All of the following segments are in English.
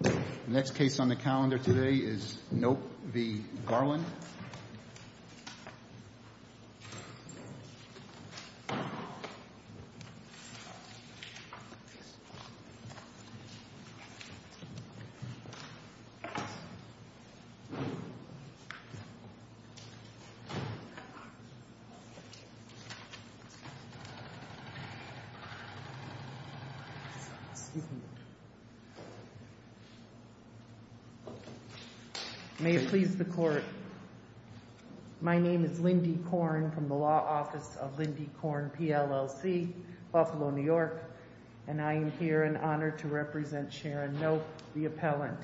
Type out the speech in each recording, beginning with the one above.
The next case on the calendar today is Nope v. Garland. May it please the court, my name is Lindy Korn from the Law Office of Lindy Korn, PLLC, Buffalo, New York, and I am here in honor to represent Sharon Nope, the appellant.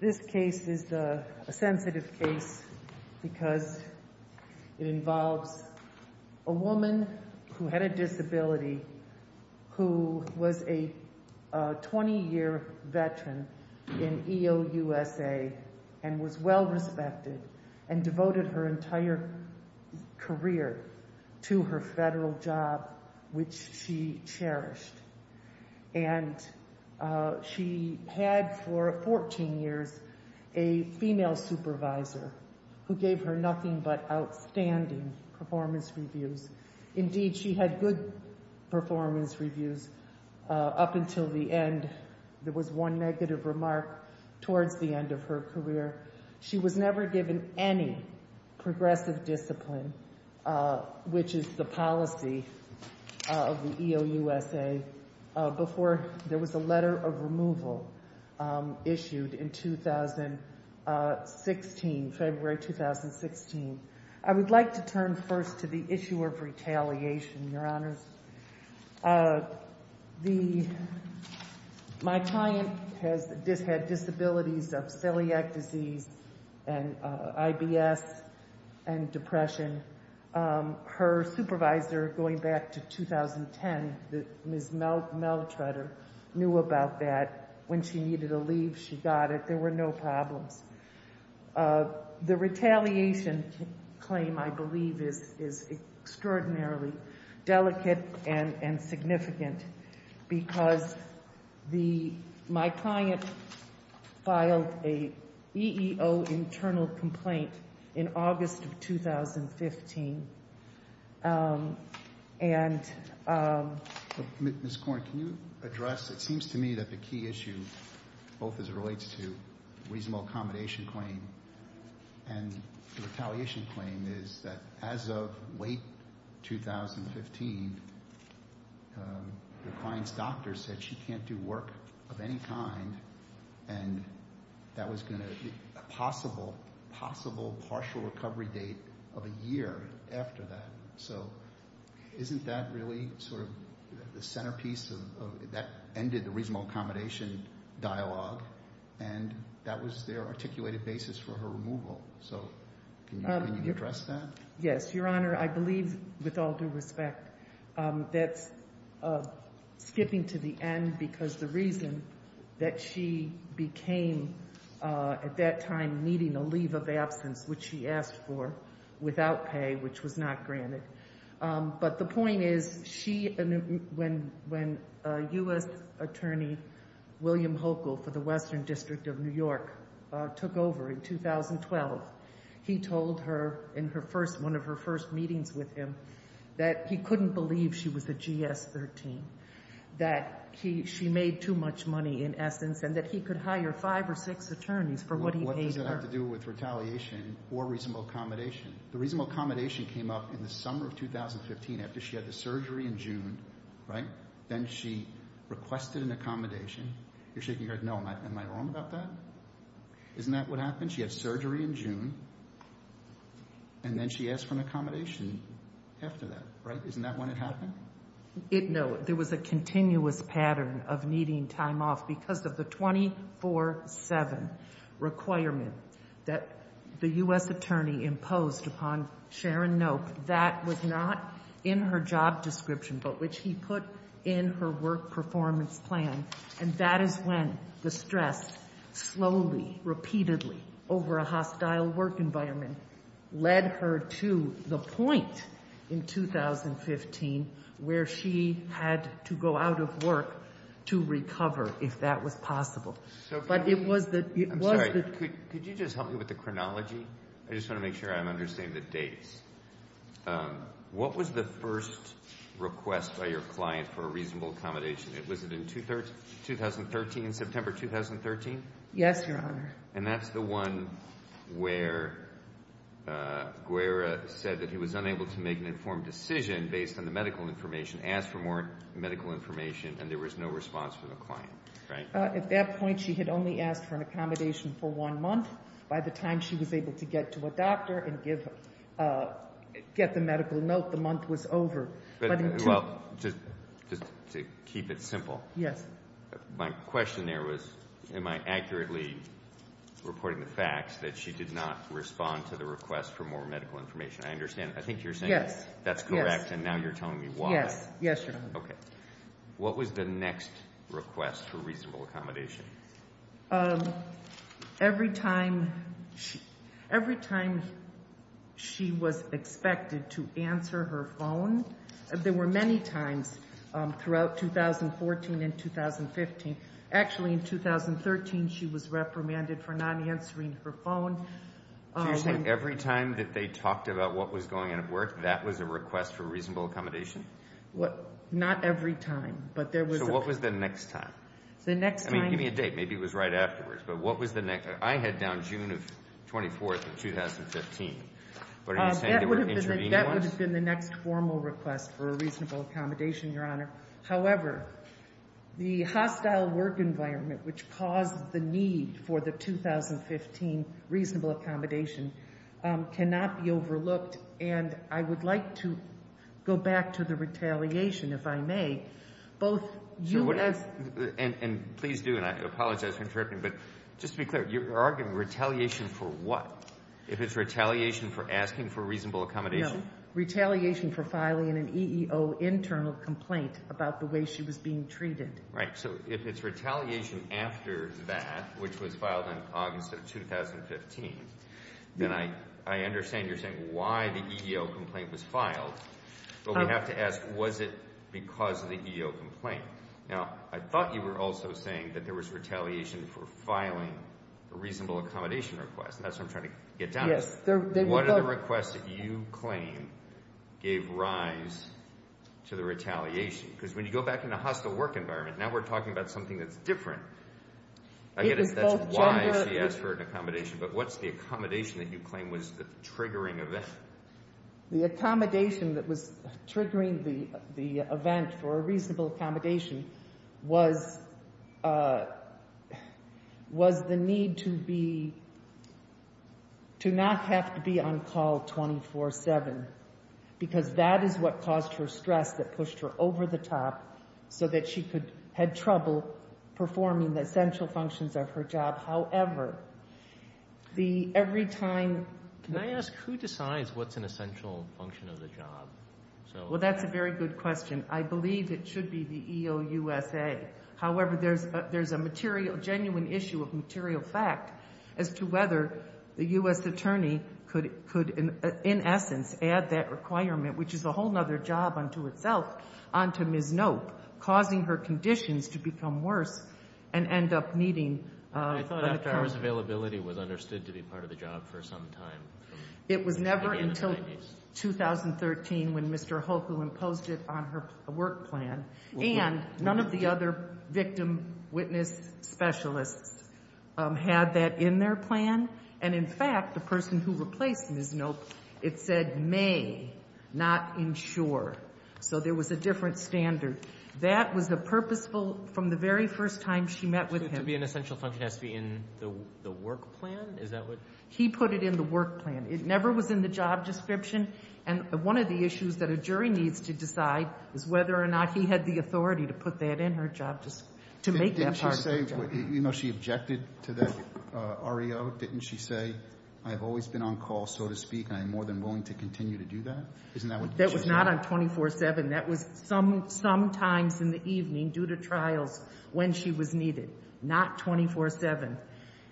This case is a sensitive case because it involves a woman who had a disability who was a 20-year veteran in EOUSA and was well respected and devoted her entire career to her federal job, which she cherished. And she had for 14 years a female supervisor who gave her nothing but outstanding performance reviews. Indeed, she had good performance reviews up until the end. There was one negative remark towards the end of her career. She was never given any progressive discipline, which is the policy of the EOUSA, before there was a letter of removal issued in February 2016. I would like to turn first to the issue of retaliation, Your Honors. My client had disabilities of celiac disease and IBS and depression. Her supervisor, going back to 2010, Ms. Meltrutter, knew about that. When she needed a leave, she got it. There were no problems. The retaliation claim, I believe, is extraordinarily delicate and significant because my client filed an EEO internal complaint in August of 2015. Ms. Korn, can you address, it seems to me that the key issue, both as it relates to the reasonable accommodation claim and the retaliation claim, is that as of late 2015, your client's doctor said she can't do work of any kind and that was going to be a possible partial recovery date of a year after that. So isn't that really sort of the centerpiece that ended the reasonable accommodation dialogue and that was their articulated basis for her removal? So can you address that? Yes, Your Honor. I believe, with all due respect, that's skipping to the end because the reason that she became, at that time, needing a leave of absence, which she asked for without pay, which was not granted, but the point is when U.S. Attorney William Hochul for the Western District of New York took over in 2012, he told her in one of her first meetings with him that he couldn't believe she was a GS-13, that she made too much money, in essence, and that he could hire five or six attorneys for what he paid her. What does that have to do with retaliation or reasonable accommodation? The reasonable accommodation came up in the summer of 2015 after she had the surgery in June, right? Then she requested an accommodation. You're shaking your head, no, am I wrong about that? Isn't that what happened? She had surgery in June and then she asked for an accommodation after that, right? Isn't that when it happened? No, there was a continuous pattern of needing time off because of the 24-7 requirement that the U.S. Attorney imposed upon Sharon Knope that was not in her job description, but which he put in her work performance plan, and that is when the stress slowly, repeatedly, over a hostile work environment led her to the point in 2015 where she had to go out of work to recover if that was possible. But it was the – I'm sorry, could you just help me with the chronology? I just want to make sure I'm understanding the dates. What was the first request by your client for a reasonable accommodation? Was it in 2013, September 2013? Yes, Your Honor. And that's the one where Guerra said that he was unable to make an informed decision based on the medical information, asked for more medical information, and there was no response from the client, right? At that point, she had only asked for an accommodation for one month. By the time she was able to get to a doctor and get the medical note, the month was over. Well, just to keep it simple. Yes. My question there was am I accurately reporting the facts that she did not respond to the request for more medical information? I understand. I think you're saying that's correct, and now you're telling me why. Yes, Your Honor. Okay. What was the next request for reasonable accommodation? Every time she was expected to answer her phone. There were many times throughout 2014 and 2015. Actually, in 2013, she was reprimanded for not answering her phone. So you're saying every time that they talked about what was going on at work, that was a request for reasonable accommodation? Not every time, but there was. So what was the next time? I mean, give me a date. Maybe it was right afterwards. But what was the next? I had down June 24, 2015. That would have been the next formal request for a reasonable accommodation, Your Honor. However, the hostile work environment, which caused the need for the 2015 reasonable accommodation, cannot be overlooked. And I would like to go back to the retaliation, if I may. And please do, and I apologize for interrupting. But just to be clear, you're arguing retaliation for what? If it's retaliation for asking for reasonable accommodation? No, retaliation for filing an EEO internal complaint about the way she was being treated. Right. So if it's retaliation after that, which was filed in August of 2015, But we have to ask, was it because of the EEO complaint? Now, I thought you were also saying that there was retaliation for filing a reasonable accommodation request, and that's what I'm trying to get down to. Yes. What are the requests that you claim gave rise to the retaliation? Because when you go back into hostile work environment, now we're talking about something that's different. I get it. That's why she asked for an accommodation. But what's the accommodation that you claim was the triggering event? The accommodation that was triggering the event for a reasonable accommodation was the need to be, to not have to be on call 24-7, because that is what caused her stress that pushed her over the top so that she could, had trouble performing the essential functions of her job. However, the every time Can I ask who decides what's an essential function of the job? Well, that's a very good question. I believe it should be the EOUSA. However, there's a genuine issue of material fact as to whether the U.S. attorney could, in essence, add that requirement, which is a whole other job unto itself, unto Ms. Knope, causing her conditions to become worse and end up needing I thought after hours availability was understood to be part of the job for some time. It was never until 2013 when Mr. Hoku imposed it on her work plan. And none of the other victim witness specialists had that in their plan. And, in fact, the person who replaced Ms. Knope, it said may not ensure. So there was a different standard. That was the purposeful, from the very first time she met with him The essential function has to be in the work plan? He put it in the work plan. It never was in the job description. And one of the issues that a jury needs to decide is whether or not he had the authority to put that in her job, just to make that part of the job. Didn't she say, you know, she objected to that REO? Didn't she say, I've always been on call, so to speak, and I'm more than willing to continue to do that? That was not on 24-7. That was sometimes in the evening due to trials when she was needed. Not 24-7.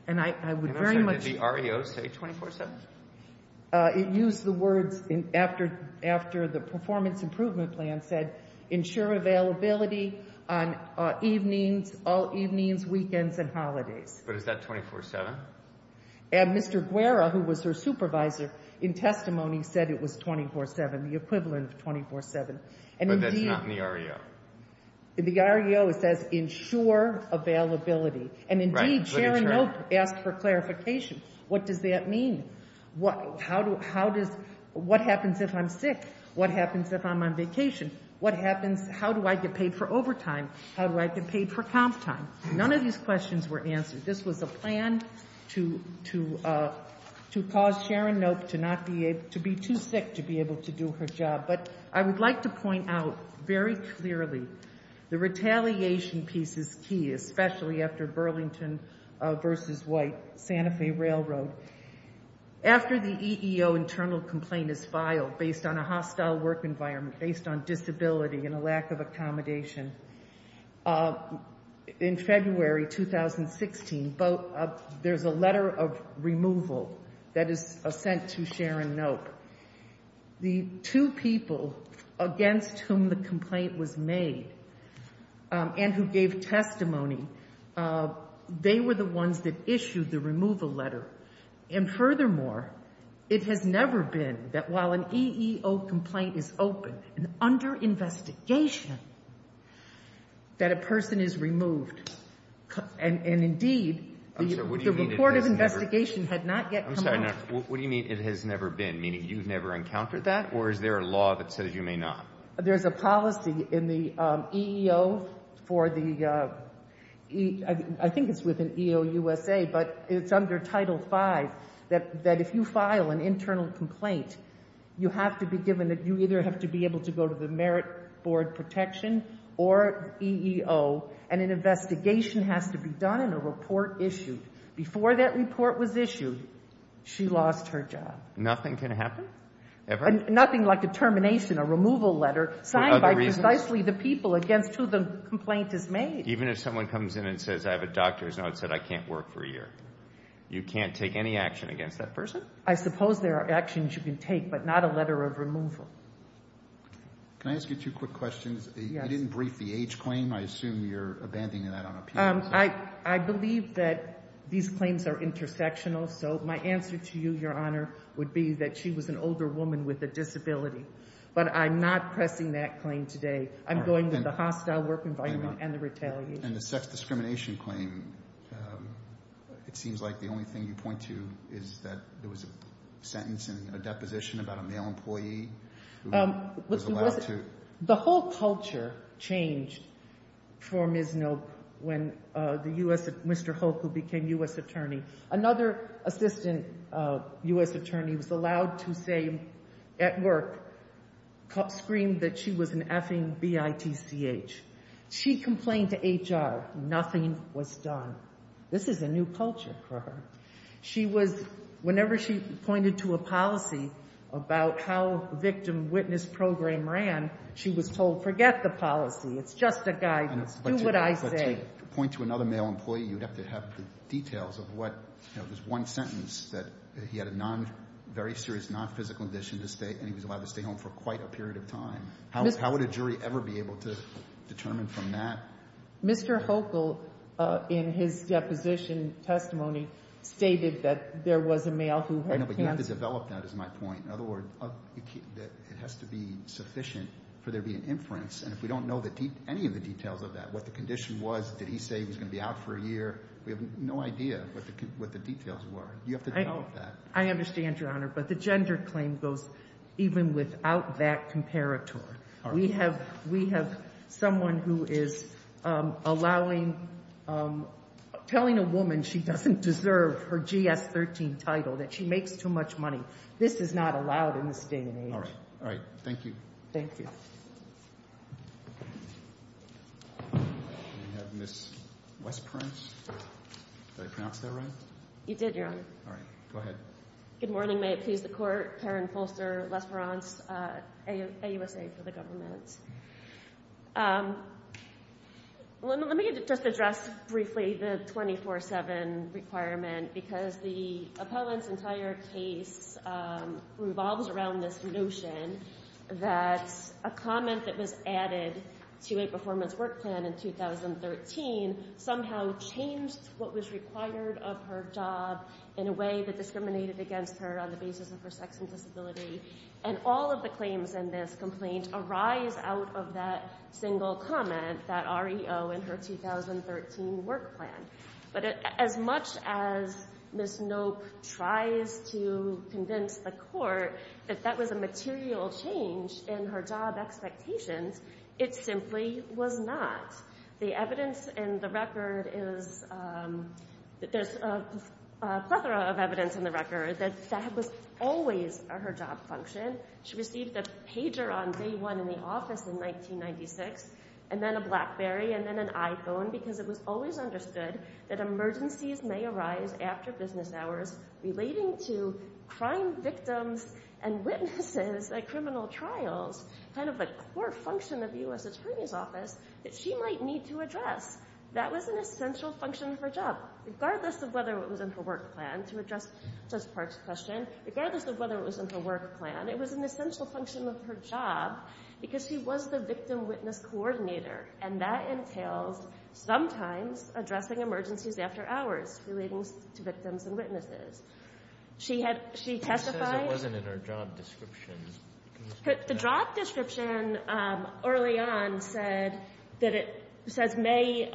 And I would very much. Did the REO say 24-7? It used the words after the performance improvement plan said ensure availability on evenings, all evenings, weekends, and holidays. But is that 24-7? And Mr. Guerra, who was her supervisor, in testimony said it was 24-7, the equivalent of 24-7. But that's not in the REO. In the REO it says ensure availability. And indeed Sharon Oak asked for clarification. What does that mean? How does, what happens if I'm sick? What happens if I'm on vacation? What happens, how do I get paid for overtime? How do I get paid for comp time? None of these questions were answered. This was a plan to cause Sharon Oak to be too sick to be able to do her job. But I would like to point out very clearly the retaliation piece is key, especially after Burlington v. White, Santa Fe Railroad. After the EEO internal complaint is filed based on a hostile work environment, based on disability and a lack of accommodation, in February 2016, there's a letter of removal that is sent to Sharon Oak. The two people against whom the complaint was made and who gave testimony, they were the ones that issued the removal letter. And furthermore, it has never been that while an EEO complaint is open and under investigation, that a person is removed. And indeed, the report of investigation had not yet come out. What do you mean it has never been? Meaning you've never encountered that? Or is there a law that says you may not? There's a policy in the EEO for the, I think it's within EEO USA, but it's under Title V, that if you file an internal complaint, you have to be given, you either have to be able to go to the Merit Board Protection or EEO, and an investigation has to be done and a report issued. Before that report was issued, she lost her job. Nothing can happen? Ever? Nothing like a termination, a removal letter signed by precisely the people against who the complaint is made. Even if someone comes in and says, I have a doctor's note that said I can't work for a year, you can't take any action against that person? I suppose there are actions you can take, but not a letter of removal. Can I ask you two quick questions? Yes. You didn't brief the age claim. I assume you're abandoning that on appeal. I believe that these claims are intersectional. My answer to you, Your Honor, would be that she was an older woman with a disability. But I'm not pressing that claim today. I'm going with the hostile work environment and the retaliation. And the sex discrimination claim, it seems like the only thing you point to is that there was a sentence and a deposition about a male employee. The whole culture changed for Ms. Knope when Mr. Hulk, who became U.S. attorney, another assistant U.S. attorney, was allowed to say at work, screamed that she was an effing B-I-T-C-H. She complained to HR. Nothing was done. This is a new culture for her. She was, whenever she pointed to a policy about how victim witness program ran, she was told, forget the policy. It's just a guidance. Do what I say. But to point to another male employee, you'd have to have the details of what, you know, this one sentence that he had a non, very serious nonphysical condition to stay, and he was allowed to stay home for quite a period of time. How would a jury ever be able to determine from that? Mr. Hochul, in his deposition testimony, stated that there was a male who had cancer. I know, but you have to develop that, is my point. In other words, it has to be sufficient for there to be an inference, and if we don't know any of the details of that, what the condition was, did he say he was going to be out for a year? We have no idea what the details were. You have to develop that. I understand, Your Honor, but the gender claim goes even without that comparator. We have someone who is allowing, telling a woman she doesn't deserve her GS-13 title, that she makes too much money. This is not allowed in this day and age. All right. Thank you. Thank you. We have Ms. Westprance. Did I pronounce that right? You did, Your Honor. All right. Go ahead. Good morning. May it please the Court. Karen Folster, Westprance, AUSA for the government. Let me just address briefly the 24-7 requirement because the appellant's entire case revolves around this notion that a comment that was added to a performance work plan in 2013 somehow changed what was required of her job in a way that discriminated against her on the basis of her sex and disability. And all of the claims in this complaint arise out of that single comment, that REO in her 2013 work plan. But as much as Ms. Knope tries to convince the Court that that was a material change in her job expectations, it simply was not. The evidence in the record is that there's a plethora of evidence in the record that that was always her job function. She received a pager on day one in the office in 1996 and then a BlackBerry and then an iPhone because it was always understood that emergencies may arise after business hours relating to crime victims and witnesses at criminal trials, kind of a core function of U.S. Attorney's Office that she might need to address. That was an essential function of her job, regardless of whether it was in her work plan. To address Judge Park's question, regardless of whether it was in her work plan, it was an essential function of her job because she was the victim-witness coordinator, and that entails sometimes addressing emergencies after hours relating to victims and witnesses. She had — she testified — her job description early on said that it says may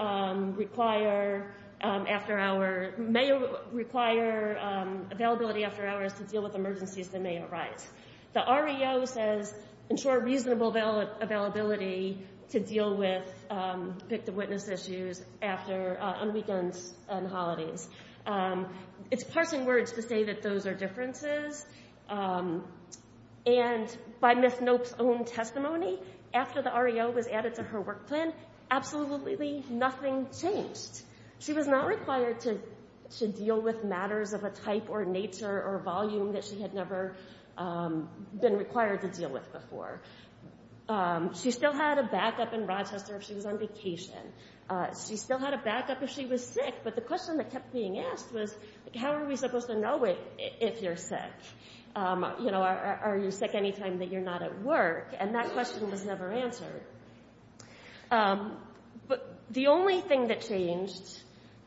require after-hour — may require availability after hours to deal with emergencies that may arise. The REO says ensure reasonable availability to deal with victim-witness issues after — on weekends and holidays. It's parsing words to say that those are differences. And by Ms. Knope's own testimony, after the REO was added to her work plan, absolutely nothing changed. She was not required to deal with matters of a type or nature or volume that she had never been required to deal with before. She still had a backup in Rochester if she was on vacation. She still had a backup if she was sick, but the question that kept being asked was, how are we supposed to know if you're sick? You know, are you sick any time that you're not at work? And that question was never answered. But the only thing that changed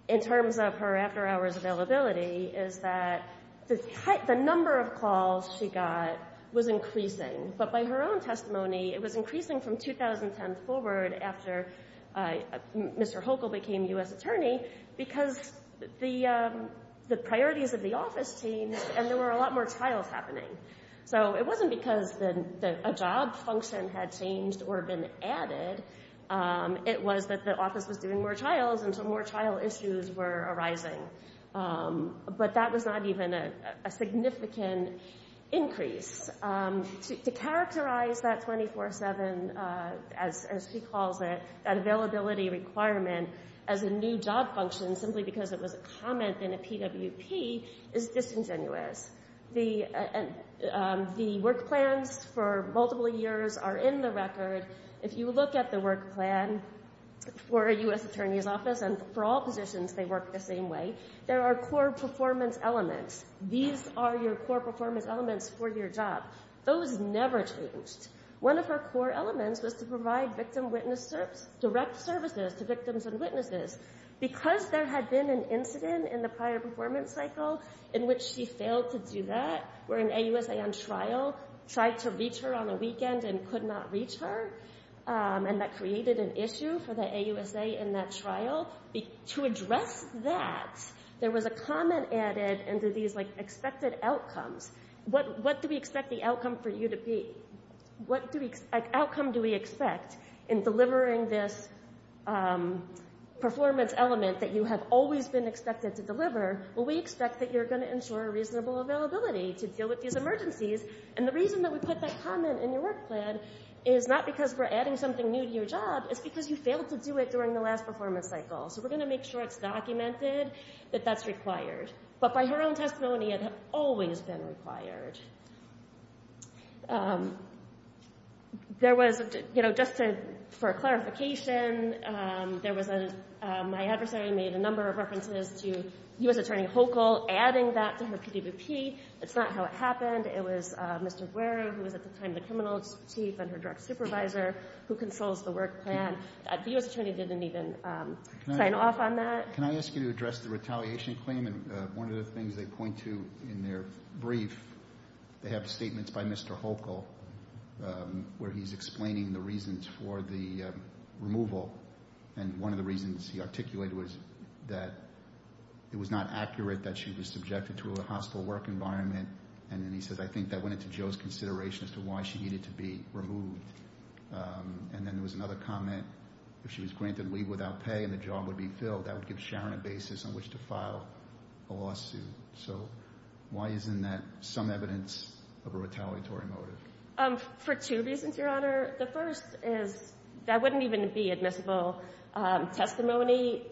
in terms of her after-hours availability is that the number of calls she got was increasing. But by her own testimony, it was increasing from 2010 forward after Mr. Hochul became U.S. attorney because the priorities of the office changed and there were a lot more trials happening. So it wasn't because a job function had changed or been added. It was that the office was doing more trials and so more trial issues were arising. But that was not even a significant increase. To characterize that 24-7, as she calls it, that availability requirement as a new job function, simply because it was a comment in a PWP, is disingenuous. The work plans for multiple years are in the record. If you look at the work plan for a U.S. attorney's office, and for all positions they work the same way, there are core performance elements. These are your core performance elements for your job. Those never changed. One of her core elements was to provide direct services to victims and witnesses. Because there had been an incident in the prior performance cycle in which she failed to do that, where an AUSA on trial tried to reach her on a weekend and could not reach her, and that created an issue for the AUSA in that trial, to address that, there was a comment added into these expected outcomes. What do we expect the outcome for you to be? What outcome do we expect in delivering this performance element that you have always been expected to deliver? Well, we expect that you're going to ensure a reasonable availability to deal with these emergencies. And the reason that we put that comment in your work plan is not because we're adding something new to your job. It's because you failed to do it during the last performance cycle. So we're going to make sure it's documented that that's required. But by her own testimony, it had always been required. There was, you know, just for clarification, my adversary made a number of references to U.S. Attorney Hochul adding that to her PDVP. That's not how it happened. It was Mr. Wary, who was at the time the criminal chief and her direct supervisor, who consoles the work plan. The U.S. Attorney didn't even sign off on that. Can I ask you to address the retaliation claim? And one of the things they point to in their brief, they have statements by Mr. Hochul, where he's explaining the reasons for the removal. And one of the reasons he articulated was that it was not accurate that she was subjected to a hostile work environment. And then he says, I think that went into Joe's consideration as to why she needed to be removed. And then there was another comment, if she was granted leave without pay and the job would be filled, that would give Sharon a basis on which to file a lawsuit. So why isn't that some evidence of a retaliatory motive? For two reasons, Your Honor. The first is that wouldn't even be admissible testimony.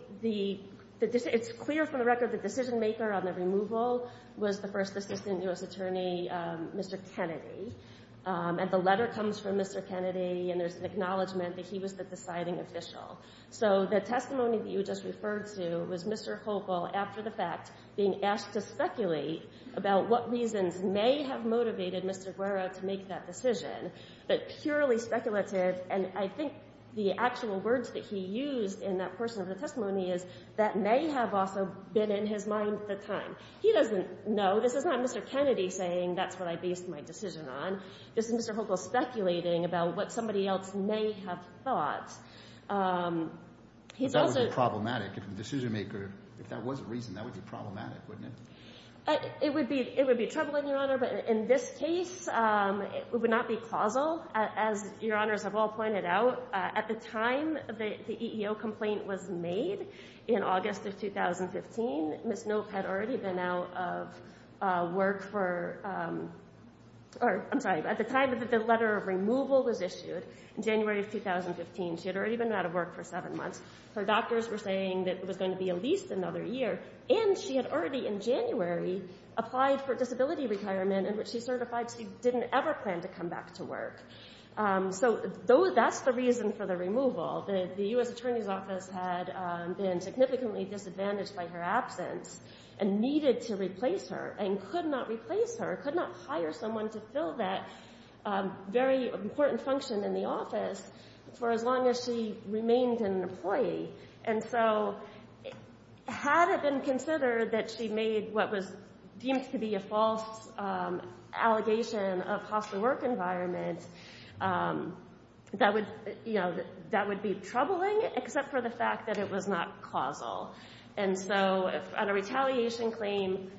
It's clear from the record the decision maker on the removal was the first assistant U.S. Attorney, Mr. Kennedy. And the letter comes from Mr. Kennedy, and there's an acknowledgment that he was the deciding official. So the testimony that you just referred to was Mr. Hochul, after the fact, being asked to speculate about what reasons may have motivated Mr. Guerra to make that decision, but purely speculative. And I think the actual words that he used in that portion of the testimony is, that may have also been in his mind at the time. He doesn't know. This is not Mr. Kennedy saying, that's what I based my decision on. This is Mr. Hochul speculating about what somebody else may have thought. But that would be problematic if the decision maker, if that was the reason, that would be problematic, wouldn't it? It would be troubling, Your Honor, but in this case, it would not be causal. As Your Honors have all pointed out, at the time the EEO complaint was made, in August of 2015, Ms. Knope had already been out of work for, I'm sorry, at the time that the letter of removal was issued, in January of 2015, she had already been out of work for seven months. Her doctors were saying that it was going to be at least another year. And she had already, in January, applied for a disability retirement, in which she certified she didn't ever plan to come back to work. So that's the reason for the removal. The U.S. Attorney's Office had been significantly disadvantaged by her absence and needed to replace her and could not replace her, could not hire someone to fill that very important function in the office for as long as she remained an employee. And so had it been considered that she made what was deemed to be a false allegation of hostile work environment, that would be troubling, except for the fact that it was not causal. And so on a retaliation claim,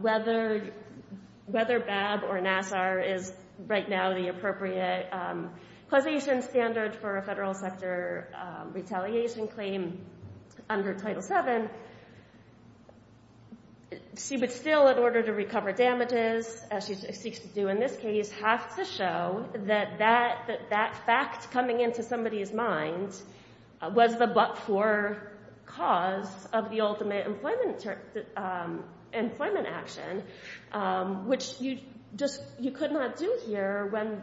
whether BAB or NASSAR is right now the appropriate causation standard for a federal sector retaliation claim under Title VII, she would still, in order to recover damages, as she seeks to do in this case, have to show that that fact coming into somebody's mind was the but-for cause of the ultimate employment action, which you could not do here when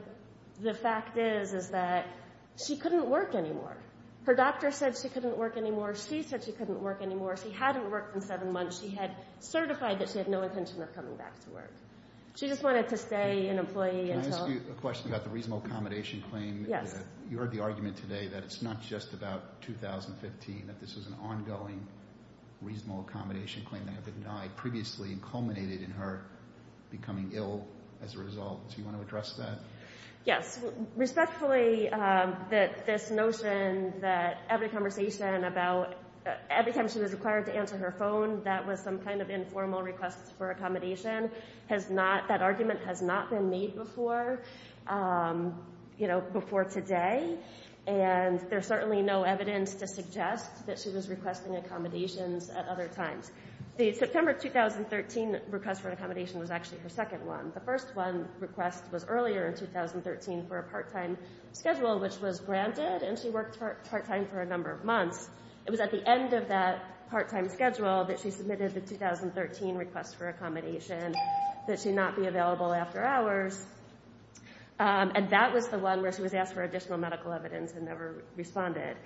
the fact is that she couldn't work anymore. Her doctor said she couldn't work anymore. She said she couldn't work anymore. She hadn't worked in seven months. She had certified that she had no intention of coming back to work. She just wanted to stay an employee until— Can I ask you a question about the reasonable accommodation claim? Yes. You heard the argument today that it's not just about 2015, that this is an ongoing reasonable accommodation claim that had been denied previously and culminated in her becoming ill as a result. Do you want to address that? Yes. Respectfully, this notion that every conversation about every time she was required to answer her phone, that was some kind of informal request for accommodation, that argument has not been made before today, and there's certainly no evidence to suggest that she was requesting accommodations at other times. The September 2013 request for accommodation was actually her second one. The first one request was earlier in 2013 for a part-time schedule, which was granted, and she worked part-time for a number of months. It was at the end of that part-time schedule that she submitted the 2013 request for accommodation, that she not be available after hours, and that was the one where she was asked for additional medical evidence and never responded.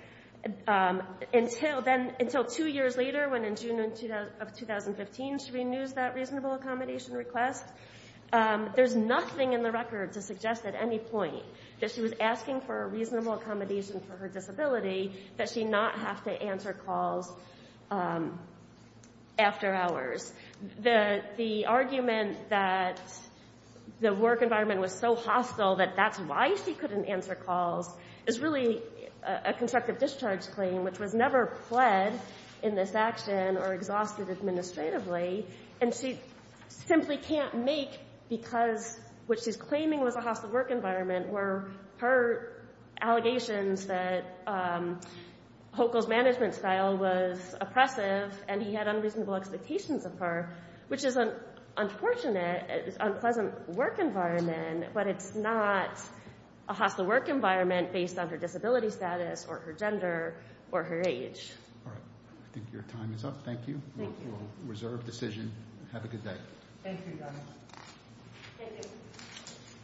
Until two years later, when in June of 2015 she renews that reasonable accommodation request, there's nothing in the record to suggest at any point that she was asking for a reasonable accommodation for her disability, that she not have to answer calls after hours. The argument that the work environment was so hostile that that's why she couldn't answer calls is really a constructive discharge claim, which was never pled in this action or exhausted administratively, and she simply can't make because what she's claiming was a hostile work environment were her allegations that Hochul's management style was oppressive and he had unreasonable expectations of her, which is an unfortunate, unpleasant work environment, but it's not a hostile work environment based on her disability status or her gender or her age. All right. I think your time is up. Thank you. Thank you. We'll reserve decision. Have a good day. Thank you, Doug. Thank you.